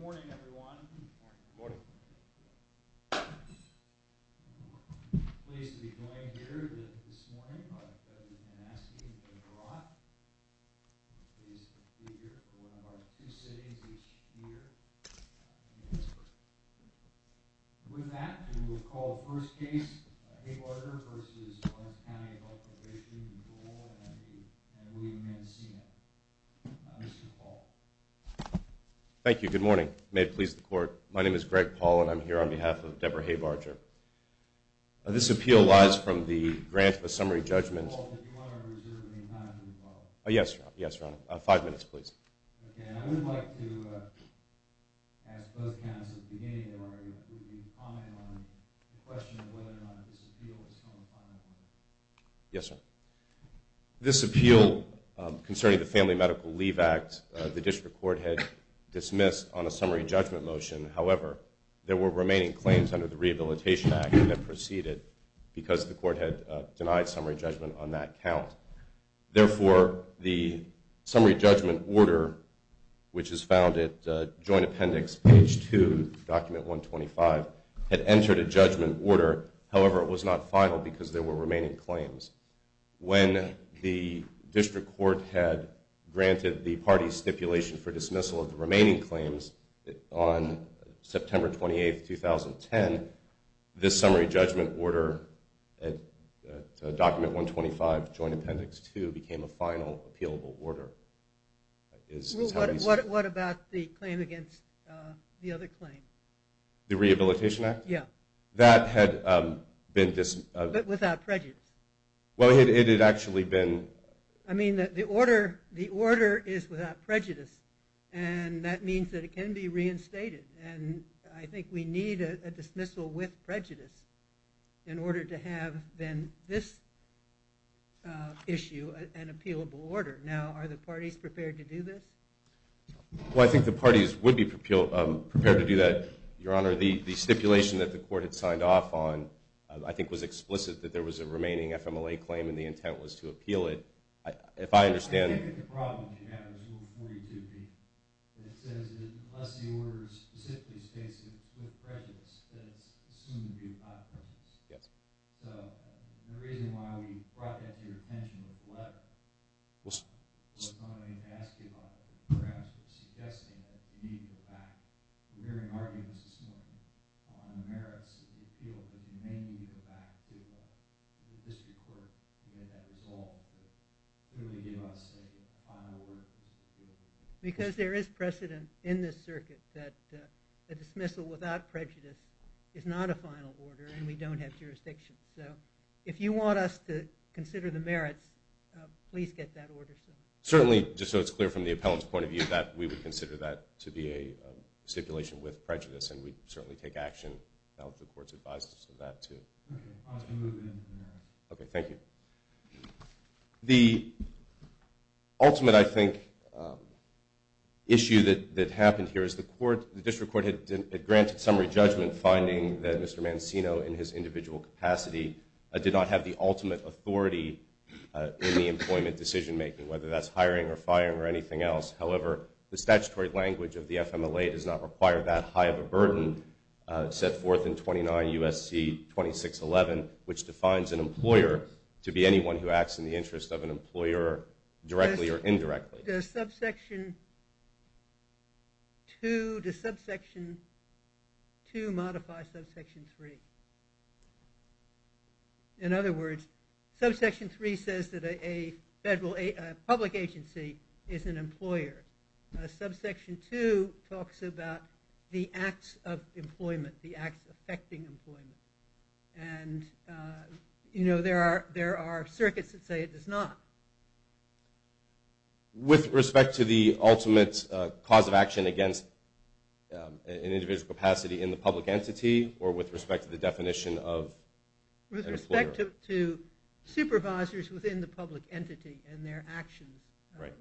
Good morning everyone. I'm pleased to be joining you here this morning. I've been asked to draw a figure for one of our two cities each year. With that, we will call first case, Haybarger v. Lawrence County Health Probation Control and William Mancino. Mr. Paul. Thank you. Good morning. May it please the court. My name is Greg Paul and I'm here on behalf of Deborah Haybarger. This appeal lies from the grant of a summary judgment. Mr. Paul, did you want to reserve any time for the vote? Yes, Your Honor. Yes, Your Honor. Five minutes, please. Okay. I would like to ask both counties at the beginning, Your Honor, to comment on the question of whether or not this appeal is going to finalize. Yes, sir. This appeal concerning the Family Medical Leave Act, the district court had dismissed on a summary judgment motion. However, there were remaining claims under the Rehabilitation Act that proceeded because the court had denied summary judgment on that count. Therefore, the summary judgment order, which is found at joint appendix page 2, document 125, had entered a judgment order. However, it was not final because there were remaining claims. When the district court had granted the party's stipulation for dismissal of the remaining claims on September 28, 2010, this summary judgment order at document 125, joint appendix 2, became a final appealable order. What about the claim against the other claim? The Rehabilitation Act? Yes. That had been dismissed. But without prejudice. Well, it had actually been... I mean, the order is without prejudice, and that means that it can be reinstated. And I think we need a dismissal with prejudice in order to have, then, this issue an appealable order. Now, are the parties prepared to do this? Well, I think the parties would be prepared to do that, Your Honor. The stipulation that the court had signed off on, I think, was explicit that there was a remaining FMLA claim and the intent was to appeal it. If I understand... I think that the problem you have is Rule 42B. It says that unless the order specifically states it's with prejudice, then it's assumed to be without prejudice. Yes. So the reason why we brought that to your attention with the letter was not only to ask you about it, but perhaps was suggesting that you need to go back. We're hearing arguments this morning on the merits of the appeal, that you may need to go back to the district court to get that resolved. Could you give us a final word? Because there is precedent in this circuit that a dismissal without prejudice is not a final order, and we don't have jurisdiction. So if you want us to consider the merits, please get that order signed. Certainly. Just so it's clear from the appellant's point of view that we would consider that to be a stipulation with prejudice, and we'd certainly take action. I hope the court's advised us of that, too. Okay. I'll move into that. Okay. Thank you. The ultimate, I think, issue that happened here is the district court had granted summary judgment finding that Mr. Mancino, in his individual capacity, did not have the ultimate authority in the employment decision-making, whether that's hiring or firing or anything else. However, the statutory language of the FMLA does not require that high of a burden set forth in 29 U.S.C. 2611, which defines an employer to be anyone who acts in the interest of an employer directly or indirectly. Does subsection 2 modify subsection 3? In other words, subsection 3 says that a public agency is an employer. Subsection 2 talks about the acts of employment, the acts affecting employment. And, you know, there are circuits that say it does not. With respect to the ultimate cause of action against an individual's capacity in the public entity or with respect to the definition of an employer? With respect to supervisors within the public entity and their actions. Right.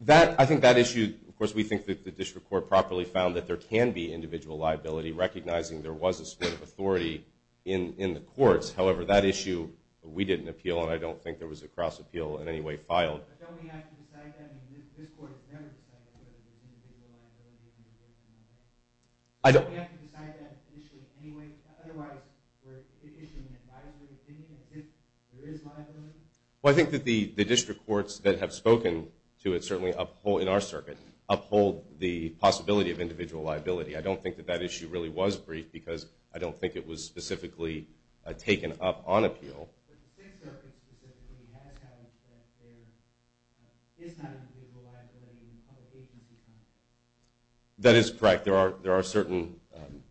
That, I think that issue, of course, we think that the district court properly found that there can be individual liability, recognizing there was a split of authority in the courts. However, that issue, we didn't appeal, and I don't think there was a cross-appeal in any way filed. But don't we have to decide that? I mean, this court has never decided whether there's individual liability. Don't we have to decide that issue in any way? Otherwise, we're issuing a liability opinion as if there is liability? Well, I think that the district courts that have spoken to it certainly uphold, in our circuit, uphold the possibility of individual liability. I don't think that that issue really was briefed because I don't think it was specifically taken up on appeal. That is correct. There are certain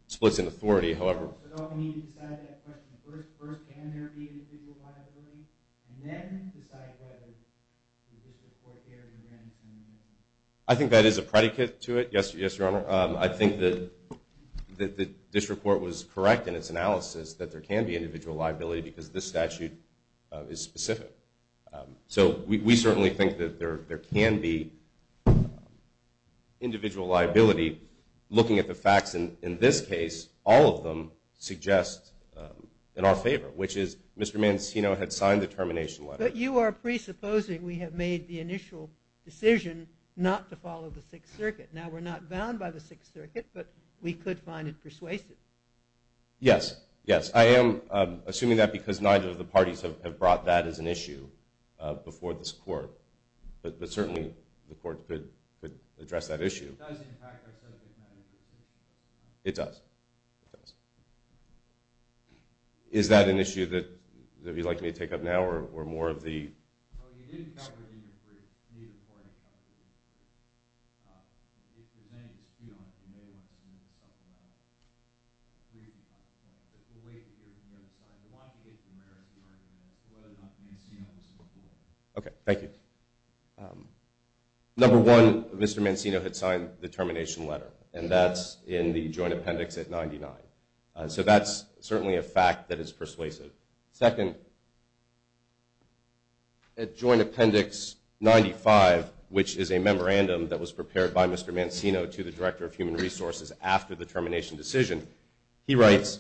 splits in authority, however. I think that is a predicate to it. Yes, Your Honor. I think that the district court was correct in its analysis that there can be individual liability because this statute is specific. So we certainly think that there can be individual liability. Looking at the facts in this case, all of them suggest in our favor, which is Mr. Mancino had signed the termination letter. But you are presupposing we have made the initial decision not to follow the Sixth Circuit. Now, we're not bound by the Sixth Circuit, but we could find it persuasive. Yes, yes. I am assuming that because neither of the parties have brought that as an issue before this court. But certainly the court could address that issue. It does impact our subject matter. It does. It does. Is that an issue that you'd like me to take up now or more of the – No, you didn't cover it in your brief. Neither party covered it. If there's any dispute on it, you may want to submit yourself to that briefing process. But we'll wait to hear from the other side. We want to get to the merits of the argument as to whether or not Mancino was supportive. Okay. Thank you. Number one, Mr. Mancino had signed the termination letter. And that's in the Joint Appendix at 99. So that's certainly a fact that is persuasive. Second, at Joint Appendix 95, which is a memorandum that was prepared by Mr. Mancino to the Director of Human Resources after the termination decision, he writes,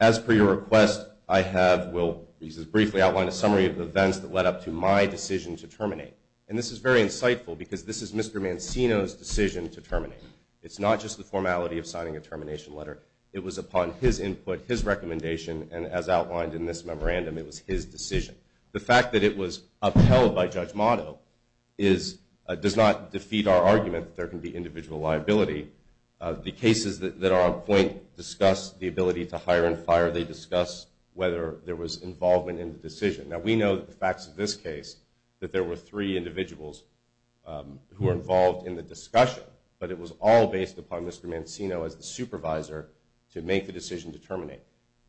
as per your request, I have – will briefly outline a summary of the events that led up to my decision to terminate. And this is very insightful because this is Mr. Mancino's decision to terminate. It's not just the formality of signing a termination letter. It was upon his input, his recommendation, and as outlined in this memorandum, it was his decision. The fact that it was upheld by Judge Motto does not defeat our argument that there can be individual liability. The cases that are on point discuss the ability to hire and fire. They discuss whether there was involvement in the decision. Now, we know the facts of this case, that there were three individuals who were involved in the discussion, but it was all based upon Mr. Mancino as the supervisor to make the decision to terminate.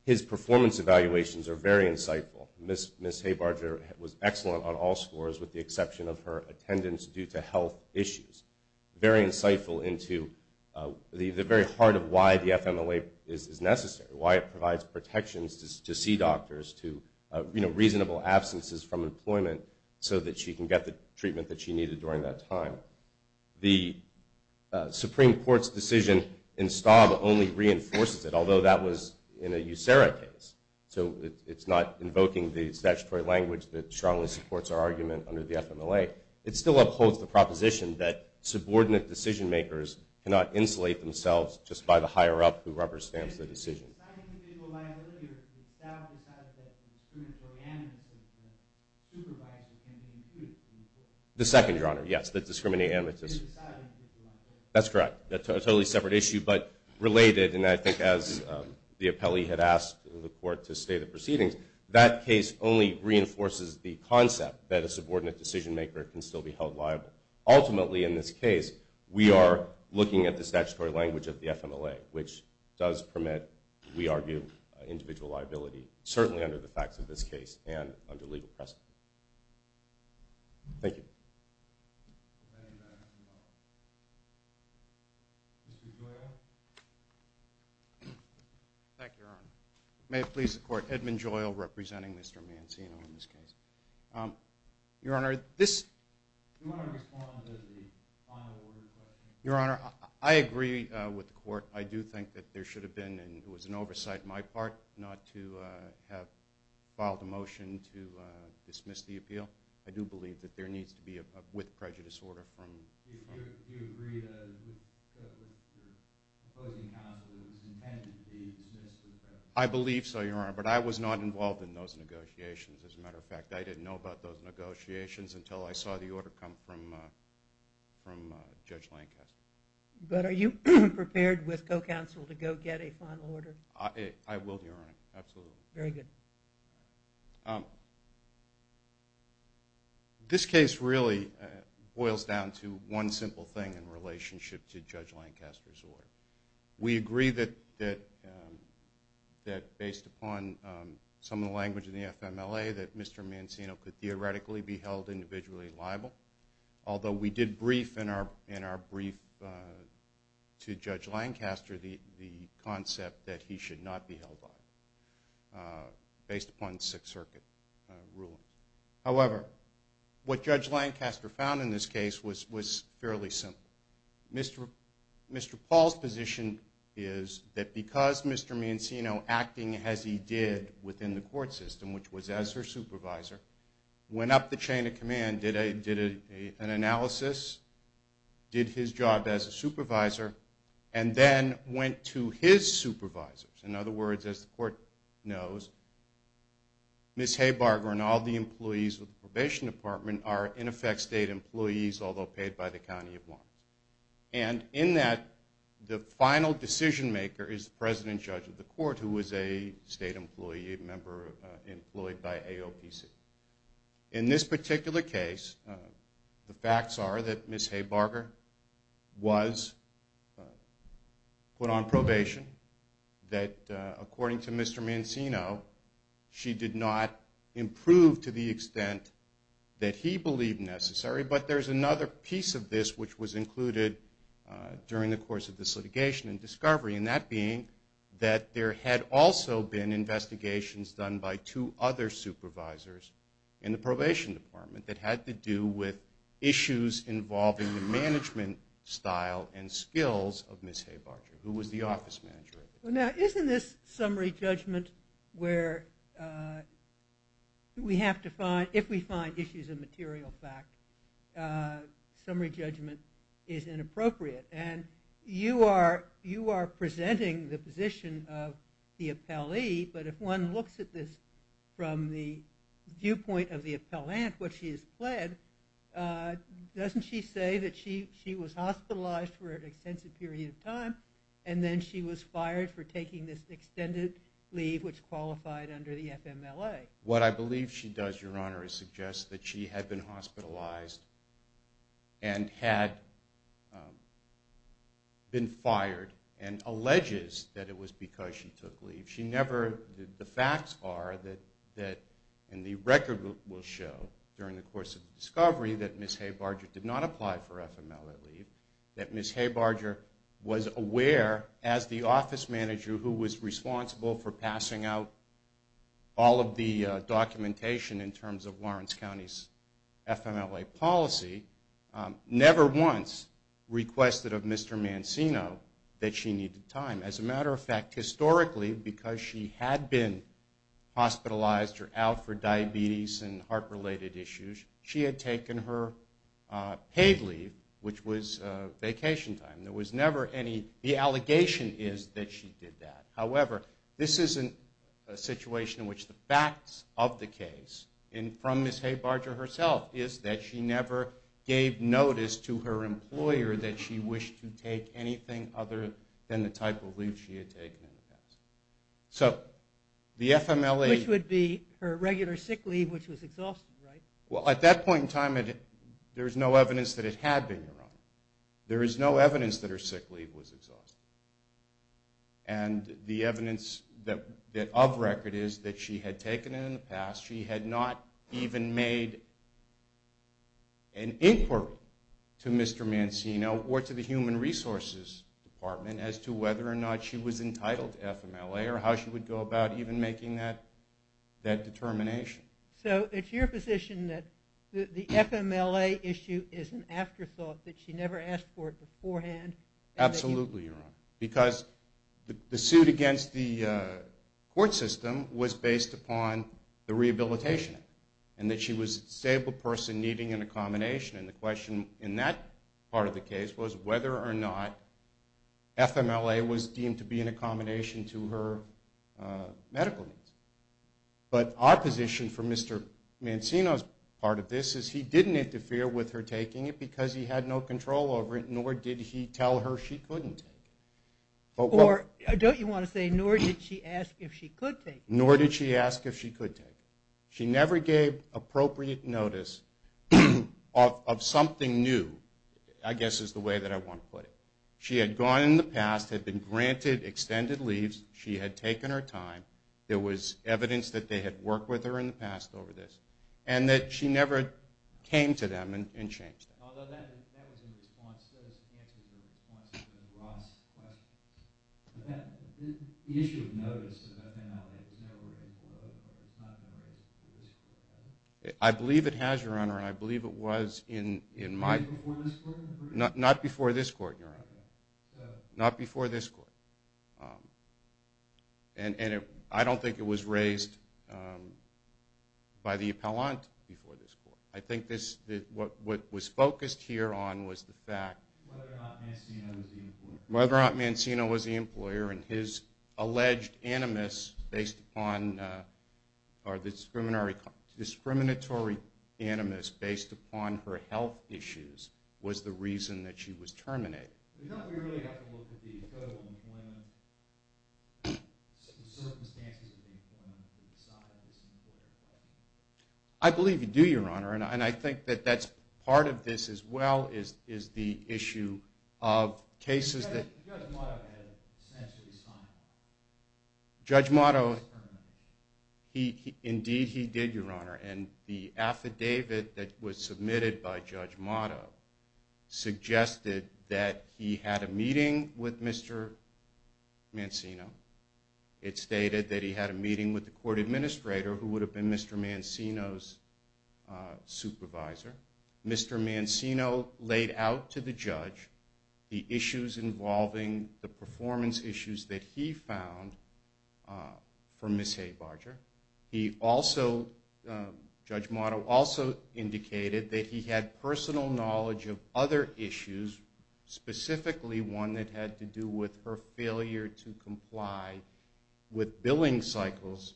His performance evaluations are very insightful. Ms. Haybarger was excellent on all scores with the exception of her attendance due to health issues. Very insightful into the very heart of why the FMLA is necessary, why it provides protections to see doctors, to reasonable absences from employment so that she can get the treatment that she needed during that time. The Supreme Court's decision in Staub only reinforces it, although that was in a USERRA case. So it's not invoking the statutory language that strongly supports our argument under the FMLA. It still upholds the proposition that subordinate decision-makers cannot insulate themselves just by the higher-up who represents the decision. The second, Your Honor, yes, the discriminatory amnesty. That's correct. That's a totally separate issue, but related, and I think as the appellee had asked the court to state the proceedings, that case only reinforces the concept that a subordinate decision-maker can still be held liable. Ultimately, in this case, we are looking at the statutory language of the FMLA, which does permit, we argue, individual liability, certainly under the facts of this case and under legal precedent. Thank you. Mr. Gioia? Thank you, Your Honor. May it please the Court, Edmund Gioia representing Mr. Mancino in this case. Your Honor, this… Do you want to respond to the final order question? Your Honor, I agree with the court. I do think that there should have been, and it was an oversight on my part not to have filed a motion to dismiss the appeal. I do believe that there needs to be a with prejudice order from… Do you agree that the opposing counsel is intended to be dismissed with prejudice? I believe so, Your Honor, but I was not involved in those negotiations. As a matter of fact, I didn't know about those negotiations until I saw the order come from Judge Lancaster. But are you prepared with co-counsel to go get a final order? I will, Your Honor, absolutely. Very good. This case really boils down to one simple thing in relationship to Judge Lancaster's order. We agree that based upon some of the language in the FMLA that Mr. Mancino could theoretically be held individually liable, although we did brief in our brief to Judge Lancaster the concept that he should not be held liable based upon the Sixth Circuit ruling. However, what Judge Lancaster found in this case was fairly simple. Mr. Paul's position is that because Mr. Mancino, acting as he did within the court system, which was as her supervisor, went up the chain of command, did an analysis, did his job as a supervisor, and then went to his supervisors, in other words, as the court knows, Ms. Haybarger and all the employees of the probation department are, in effect, state employees, although paid by the County of Lawrence. And in that, the final decision-maker is the president judge of the court, who is a state employee, a member employed by AOPC. In this particular case, the facts are that Ms. Haybarger was put on probation, that according to Mr. Mancino, she did not improve to the extent that he believed necessary, but there's another piece of this which was included during the course of this litigation and discovery, and that being that there had also been investigations done by two other supervisors in the probation department that had to do with issues involving the management style and skills of Ms. Haybarger, who was the office manager. Now, isn't this summary judgment where we have to find, if we find issues of material fact, summary judgment is inappropriate? And you are presenting the position of the appellee, but if one looks at this from the viewpoint of the appellant, what she has pled, doesn't she say that she was hospitalized for an extensive period of time and then she was fired for taking this extended leave which qualified under the FMLA? What I believe she does, Your Honor, is suggest that she had been hospitalized and had been fired and alleges that it was because she took leave. She never, the facts are that, and the record will show during the course of the discovery, that Ms. Haybarger did not apply for FMLA leave, that Ms. Haybarger was aware, as the office manager who was responsible for passing out all of the documentation in terms of Lawrence County's FMLA policy, never once requested of Mr. Mancino that she needed time. As a matter of fact, historically, because she had been hospitalized or out for diabetes and heart-related issues, she had taken her paid leave, which was vacation time. There was never any, the allegation is that she did that. However, this isn't a situation in which the facts of the case, and from Ms. Haybarger herself, is that she never gave notice to her employer that she wished to take anything other than the type of leave she had taken in the past. So the FMLA... Which would be her regular sick leave, which was exhausting, right? Well, at that point in time, there's no evidence that it had been, Your Honor. There is no evidence that her sick leave was exhausting. And the evidence of record is that she had taken it in the past. She had not even made an inquiry to Mr. Mancino or to the Human Resources Department as to whether or not she was entitled to FMLA or how she would go about even making that determination. So it's your position that the FMLA issue is an afterthought, that she never asked for it beforehand? Absolutely, Your Honor. Because the suit against the court system was based upon the Rehabilitation Act and that she was a stable person needing an accommodation. And the question in that part of the case was whether or not FMLA was deemed to be an accommodation to her medical needs. But our position from Mr. Mancino's part of this is he didn't interfere with her taking it Or don't you want to say nor did she ask if she could take it? Nor did she ask if she could take it. She never gave appropriate notice of something new, I guess is the way that I want to put it. She had gone in the past, had been granted extended leaves. She had taken her time. There was evidence that they had worked with her in the past over this and that she never came to them and changed it. Although that was an answer to a response to Ross' question. The issue of notice of FMLA was never raised in court, but it's not been raised in this court, is it? I believe it has, Your Honor, and I believe it was in my... Was it before this court? Not before this court, Your Honor. Not before this court. And I don't think it was raised by the appellant before this court. I think what was focused here on was the fact... Whether or not Mancino was the employer. Whether or not Mancino was the employer and his alleged animus based upon... or the discriminatory animus based upon her health issues was the reason that she was terminated. Do you know if we really have to look at the total employment... the circumstances of the employment to decide if it's an employer or not? I believe you do, Your Honor, and I think that that's part of this as well is the issue of cases that... Judge Motto had essentially signed it. Judge Motto... Indeed, he did, Your Honor, and the affidavit that was submitted by Judge Motto suggested that he had a meeting with Mr. Mancino. It stated that he had a meeting with the court administrator who would have been Mr. Mancino's supervisor. Mr. Mancino laid out to the judge the issues involving the performance issues that he found for Ms. Haybarger. He also... Judge Motto also indicated that he had personal knowledge of other issues, specifically one that had to do with her failure to comply with billing cycles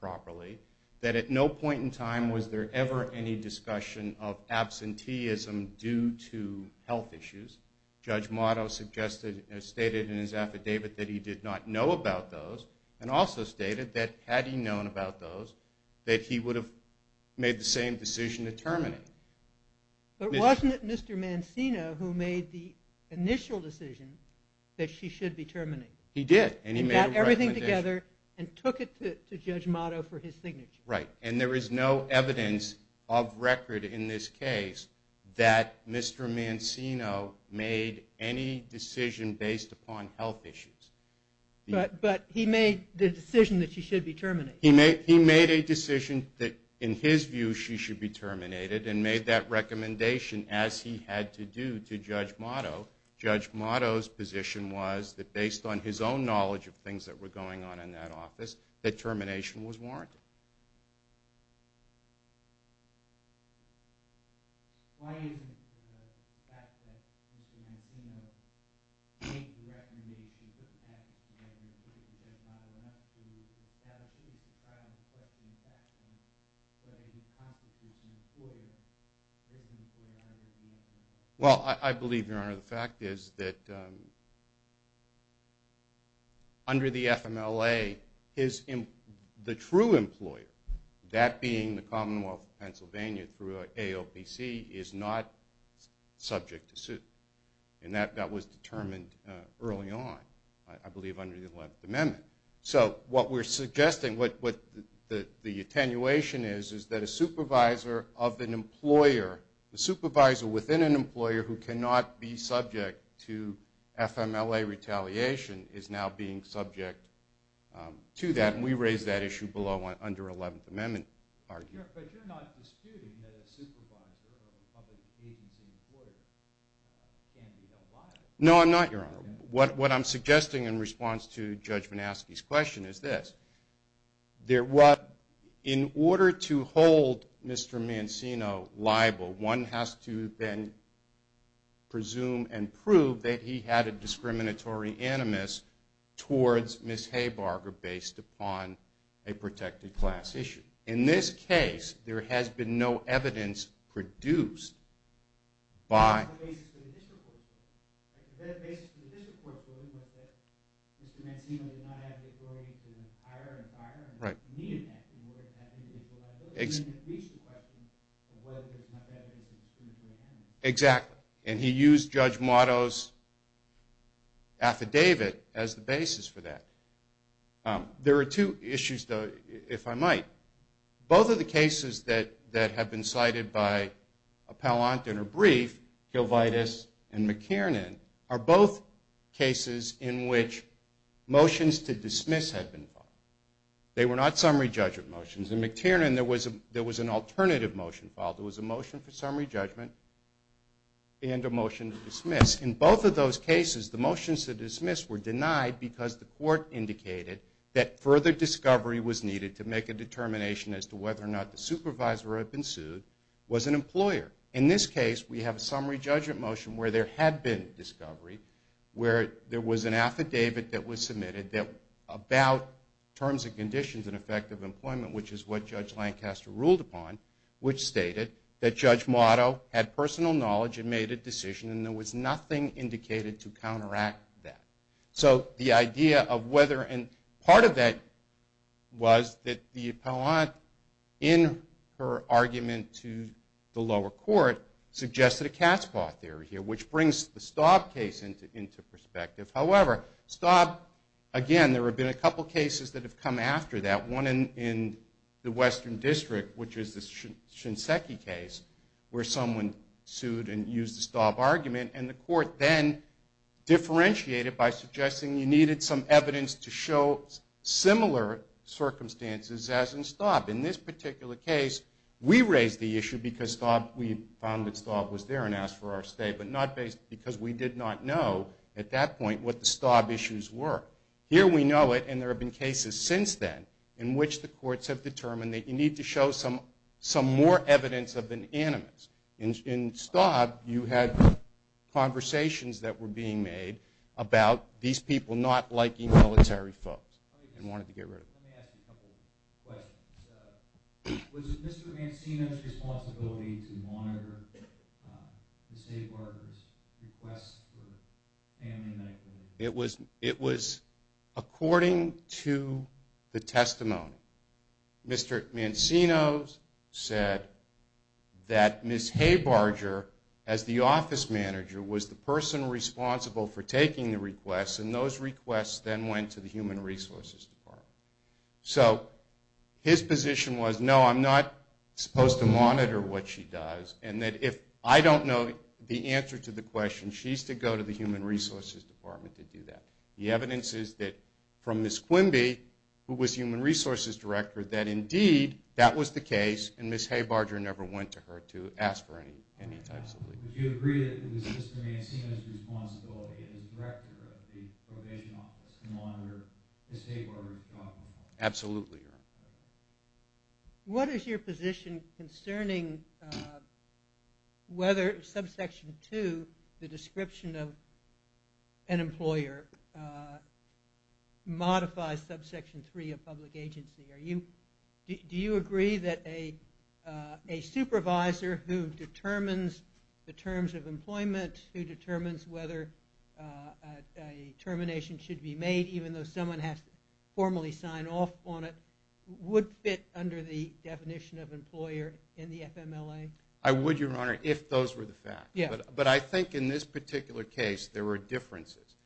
properly, that at no point in time was there ever any discussion of absenteeism due to health issues. Judge Motto stated in his affidavit that he did not know about those and also stated that had he known about those, that he would have made the same decision to terminate. But wasn't it Mr. Mancino who made the initial decision that she should be terminated? He did. He got everything together and took it to Judge Motto for his signature. Right. And there is no evidence of record in this case that Mr. Mancino made any decision based upon health issues. But he made the decision that she should be terminated. He made a decision that in his view she should be terminated and made that recommendation as he had to do to Judge Motto. Judge Motto's position was that based on his own knowledge of things that were going on in that office, that termination was warranted. Why isn't the fact that Mr. Mancino made the recommendation to pass the statute to Judge Motto and not to pass the trial and question the facts in a way that constitutes an employer? Well, I believe, Your Honor, the fact is that under the FMLA, the true employer, that being the Commonwealth of Pennsylvania through AOPC, is not subject to suit. And that was determined early on, I believe under the 11th Amendment. So what we're suggesting, what the attenuation is, is that a supervisor of an employer, a supervisor within an employer who cannot be subject to FMLA retaliation is now being subject to that, and we raised that issue below under 11th Amendment argument. But you're not disputing that a supervisor of a public agency employer can be held liable? No, I'm not, Your Honor. What I'm suggesting in response to Judge Manaski's question is this. In order to hold Mr. Mancino liable, one has to then presume and prove that he had a discriminatory animus towards Ms. Haybarger based upon a protected class issue. In this case, there has been no evidence produced by... Is there a basis for the district court's ruling that Mr. Mancino did not have the authority to hire an employer and that he needed that in order to have individual liability? It raises the question of whether there's enough evidence of discriminatory animus. Exactly. And he used Judge Mato's affidavit as the basis for that. There are two issues, though, if I might. Both of the cases that have been cited by Appellant and her brief, Gilvitis and McTiernan, are both cases in which motions to dismiss had been filed. They were not summary judgment motions. In McTiernan, there was an alternative motion filed. There was a motion for summary judgment and a motion to dismiss. In both of those cases, the motions to dismiss were denied because the court indicated that further discovery was needed to make a determination as to whether or not the supervisor had been sued, was an employer. In this case, we have a summary judgment motion where there had been discovery, where there was an affidavit that was submitted about terms and conditions and effect of employment, which is what Judge Lancaster ruled upon, which stated that Judge Mato had personal knowledge and made a decision and there was nothing indicated to counteract that. So the idea of whether and part of that was that the Appellant, in her argument to the lower court, suggested a cat's paw theory here, which brings the Staub case into perspective. However, Staub, again, there have been a couple cases that have come after that. One in the Western District, which is the Shinseki case, where someone sued and used the Staub argument, and the court then differentiated by suggesting you needed some evidence to show similar circumstances as in Staub. In this particular case, we raised the issue because we found that Staub was there and asked for our stay, but not because we did not know at that point what the Staub issues were. Here we know it, and there have been cases since then in which the courts have determined that you need to show some more evidence of an animus. In Staub, you had conversations that were being made about these people not liking military folks and wanted to get rid of them. Let me ask you a couple questions. Was it Mr. Mancino's responsibility to monitor Ms. Haybarger's request for family medical leave? It was according to the testimony. Mr. Mancino said that Ms. Haybarger, as the office manager, was the person responsible for taking the request, and those requests then went to the Human Resources Department. So his position was, no, I'm not supposed to monitor what she does, and that if I don't know the answer to the question, she's to go to the Human Resources Department to do that. The evidence is that from Ms. Quimby, who was Human Resources Director, that indeed that was the case, and Ms. Haybarger never went to her to ask for any types of leave. Would you agree that it was Mr. Mancino's responsibility as Director of the Probation Office to monitor Ms. Haybarger's job? Absolutely. What is your position concerning whether subsection 2, the description of an employer, modifies subsection 3 of public agency? Do you agree that a supervisor who determines the terms of employment, who determines whether a termination should be made, even though someone has to formally sign off on it, would fit under the definition of employer in the FMLA? I would, Your Honor, if those were the facts. But I think in this particular case there were differences.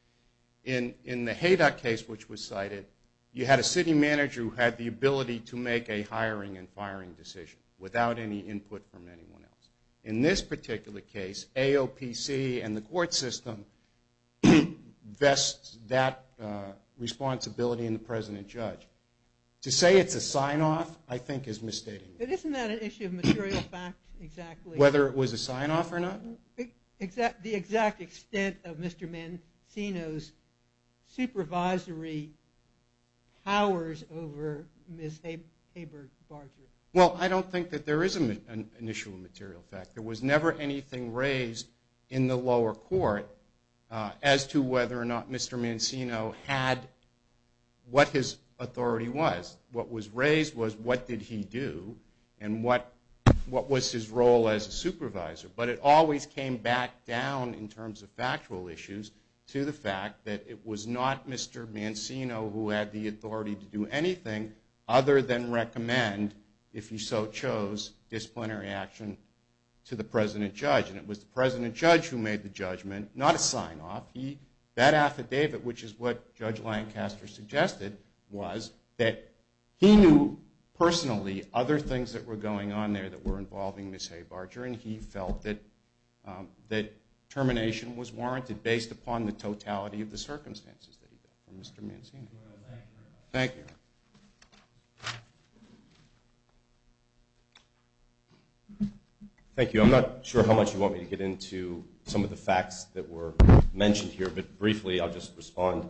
In the Haydock case, which was cited, you had a city manager who had the ability to make a hiring and firing decision without any input from anyone else. In this particular case, AOPC and the court system vests that responsibility in the president judge. To say it's a sign-off, I think, is misstating. Isn't that an issue of material fact, exactly? Whether it was a sign-off or not? The exact extent of Mr. Mancino's supervisory powers over Ms. Haber-Barger. Well, I don't think that there is an issue of material fact. There was never anything raised in the lower court as to whether or not Mr. Mancino had what his authority was. What was raised was what did he do and what was his role as a supervisor. But it always came back down in terms of factual issues to the fact that it was not Mr. Mancino who had the authority to do anything other than recommend, if he so chose, disciplinary action to the president judge. And it was the president judge who made the judgment, not a sign-off. That affidavit, which is what Judge Lancaster suggested, was that he knew personally other things that were going on there that were involving Ms. Haber-Barger. And he felt that termination was warranted based upon the totality of the circumstances that he had with Mr. Mancino. Thank you. Thank you. I'm not sure how much you want me to get into some of the facts that were mentioned here, but briefly I'll just respond.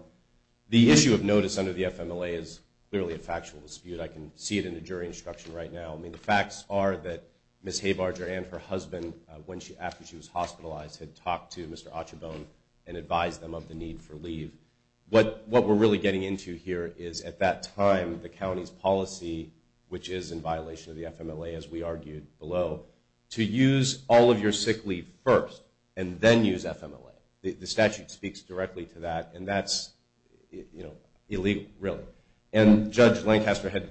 The issue of notice under the FMLA is clearly a factual dispute. I can see it in the jury instruction right now. I mean, the facts are that Ms. Haber-Barger and her husband, after she was hospitalized, had talked to Mr. Ochebon and advised them of the need for leave. What we're really getting into here is, at that time, the county's policy, which is in violation of the FMLA, as we argued below, to use all of your sick leave first and then use FMLA. The statute speaks directly to that, and that's illegal, really. And Judge Lancaster had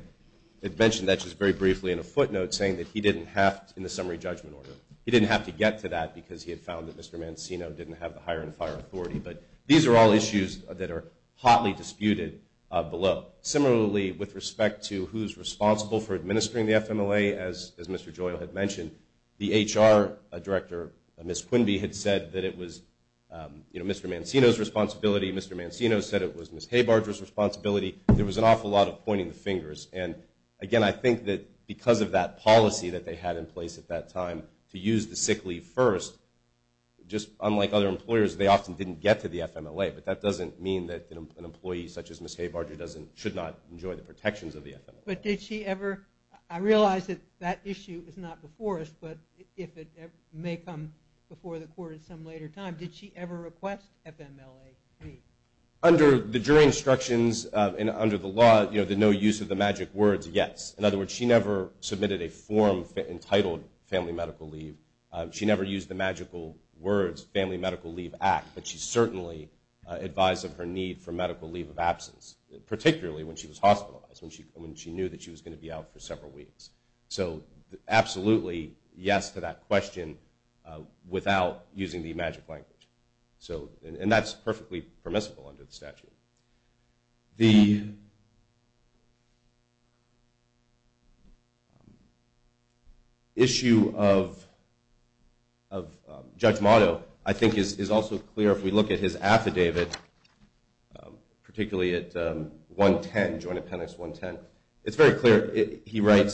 mentioned that just very briefly in a footnote, saying that he didn't have to, in the summary judgment order, he didn't have to get to that because he had found that Mr. Mancino didn't have the hire and fire authority. But these are all issues that are hotly disputed below. Similarly, with respect to who's responsible for administering the FMLA, as Mr. Joyal had mentioned, the HR Director, Ms. Quinby, had said that it was Mr. Mancino's responsibility. Mr. Mancino said it was Ms. Haber-Barger's responsibility. There was an awful lot of pointing the fingers. And, again, I think that because of that policy that they had in place at that time to use the sick leave first, just unlike other employers, they often didn't get to the FMLA. But that doesn't mean that an employee such as Ms. Haber-Barger should not enjoy the protections of the FMLA. But did she ever – I realize that that issue is not before us, but it may come before the court at some later time. Did she ever request FMLA leave? Under the jury instructions and under the law, the no use of the magic words, yes. In other words, she never submitted a form entitled family medical leave. She never used the magical words family medical leave act, but she certainly advised of her need for medical leave of absence, particularly when she was hospitalized, when she knew that she was going to be out for several weeks. So absolutely yes to that question without using the magic language. And that's perfectly permissible under the statute. The issue of Judge Motto, I think, is also clear if we look at his affidavit, particularly at 110, Joint Appendix 110. It's very clear. I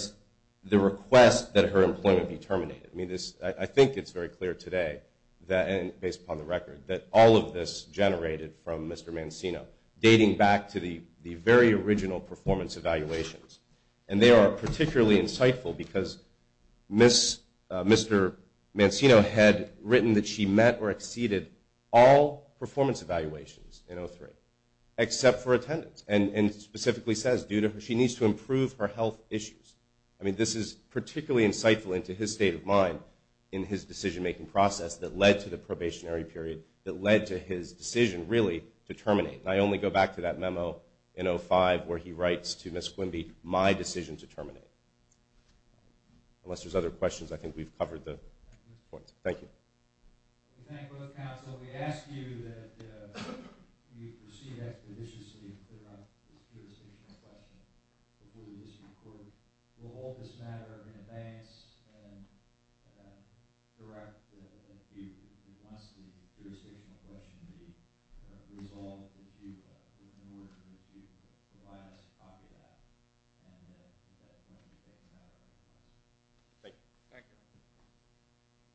think it's very clear today, based upon the record, that all of this generated from Mr. Mancino, dating back to the very original performance evaluations. And they are particularly insightful because Mr. Mancino had written that she met or exceeded all performance evaluations in 03, except for attendance, and specifically says due to her – she needs to improve her health issues. I mean, this is particularly insightful into his state of mind in his decision-making process that led to the probationary period, that led to his decision, really, to terminate. And I only go back to that memo in 05 where he writes to Ms. Quimby, my decision to terminate. Unless there's other questions, I think we've covered the points. Thank you. We thank both counsel. We ask you that you proceed expeditiously and clear up this jurisdictional question before we issue a court. We'll hold this matter in advance and direct if you want the jurisdictional question to be resolved in order for you to provide us a copy of that. And that's going to be taken care of. Thank you.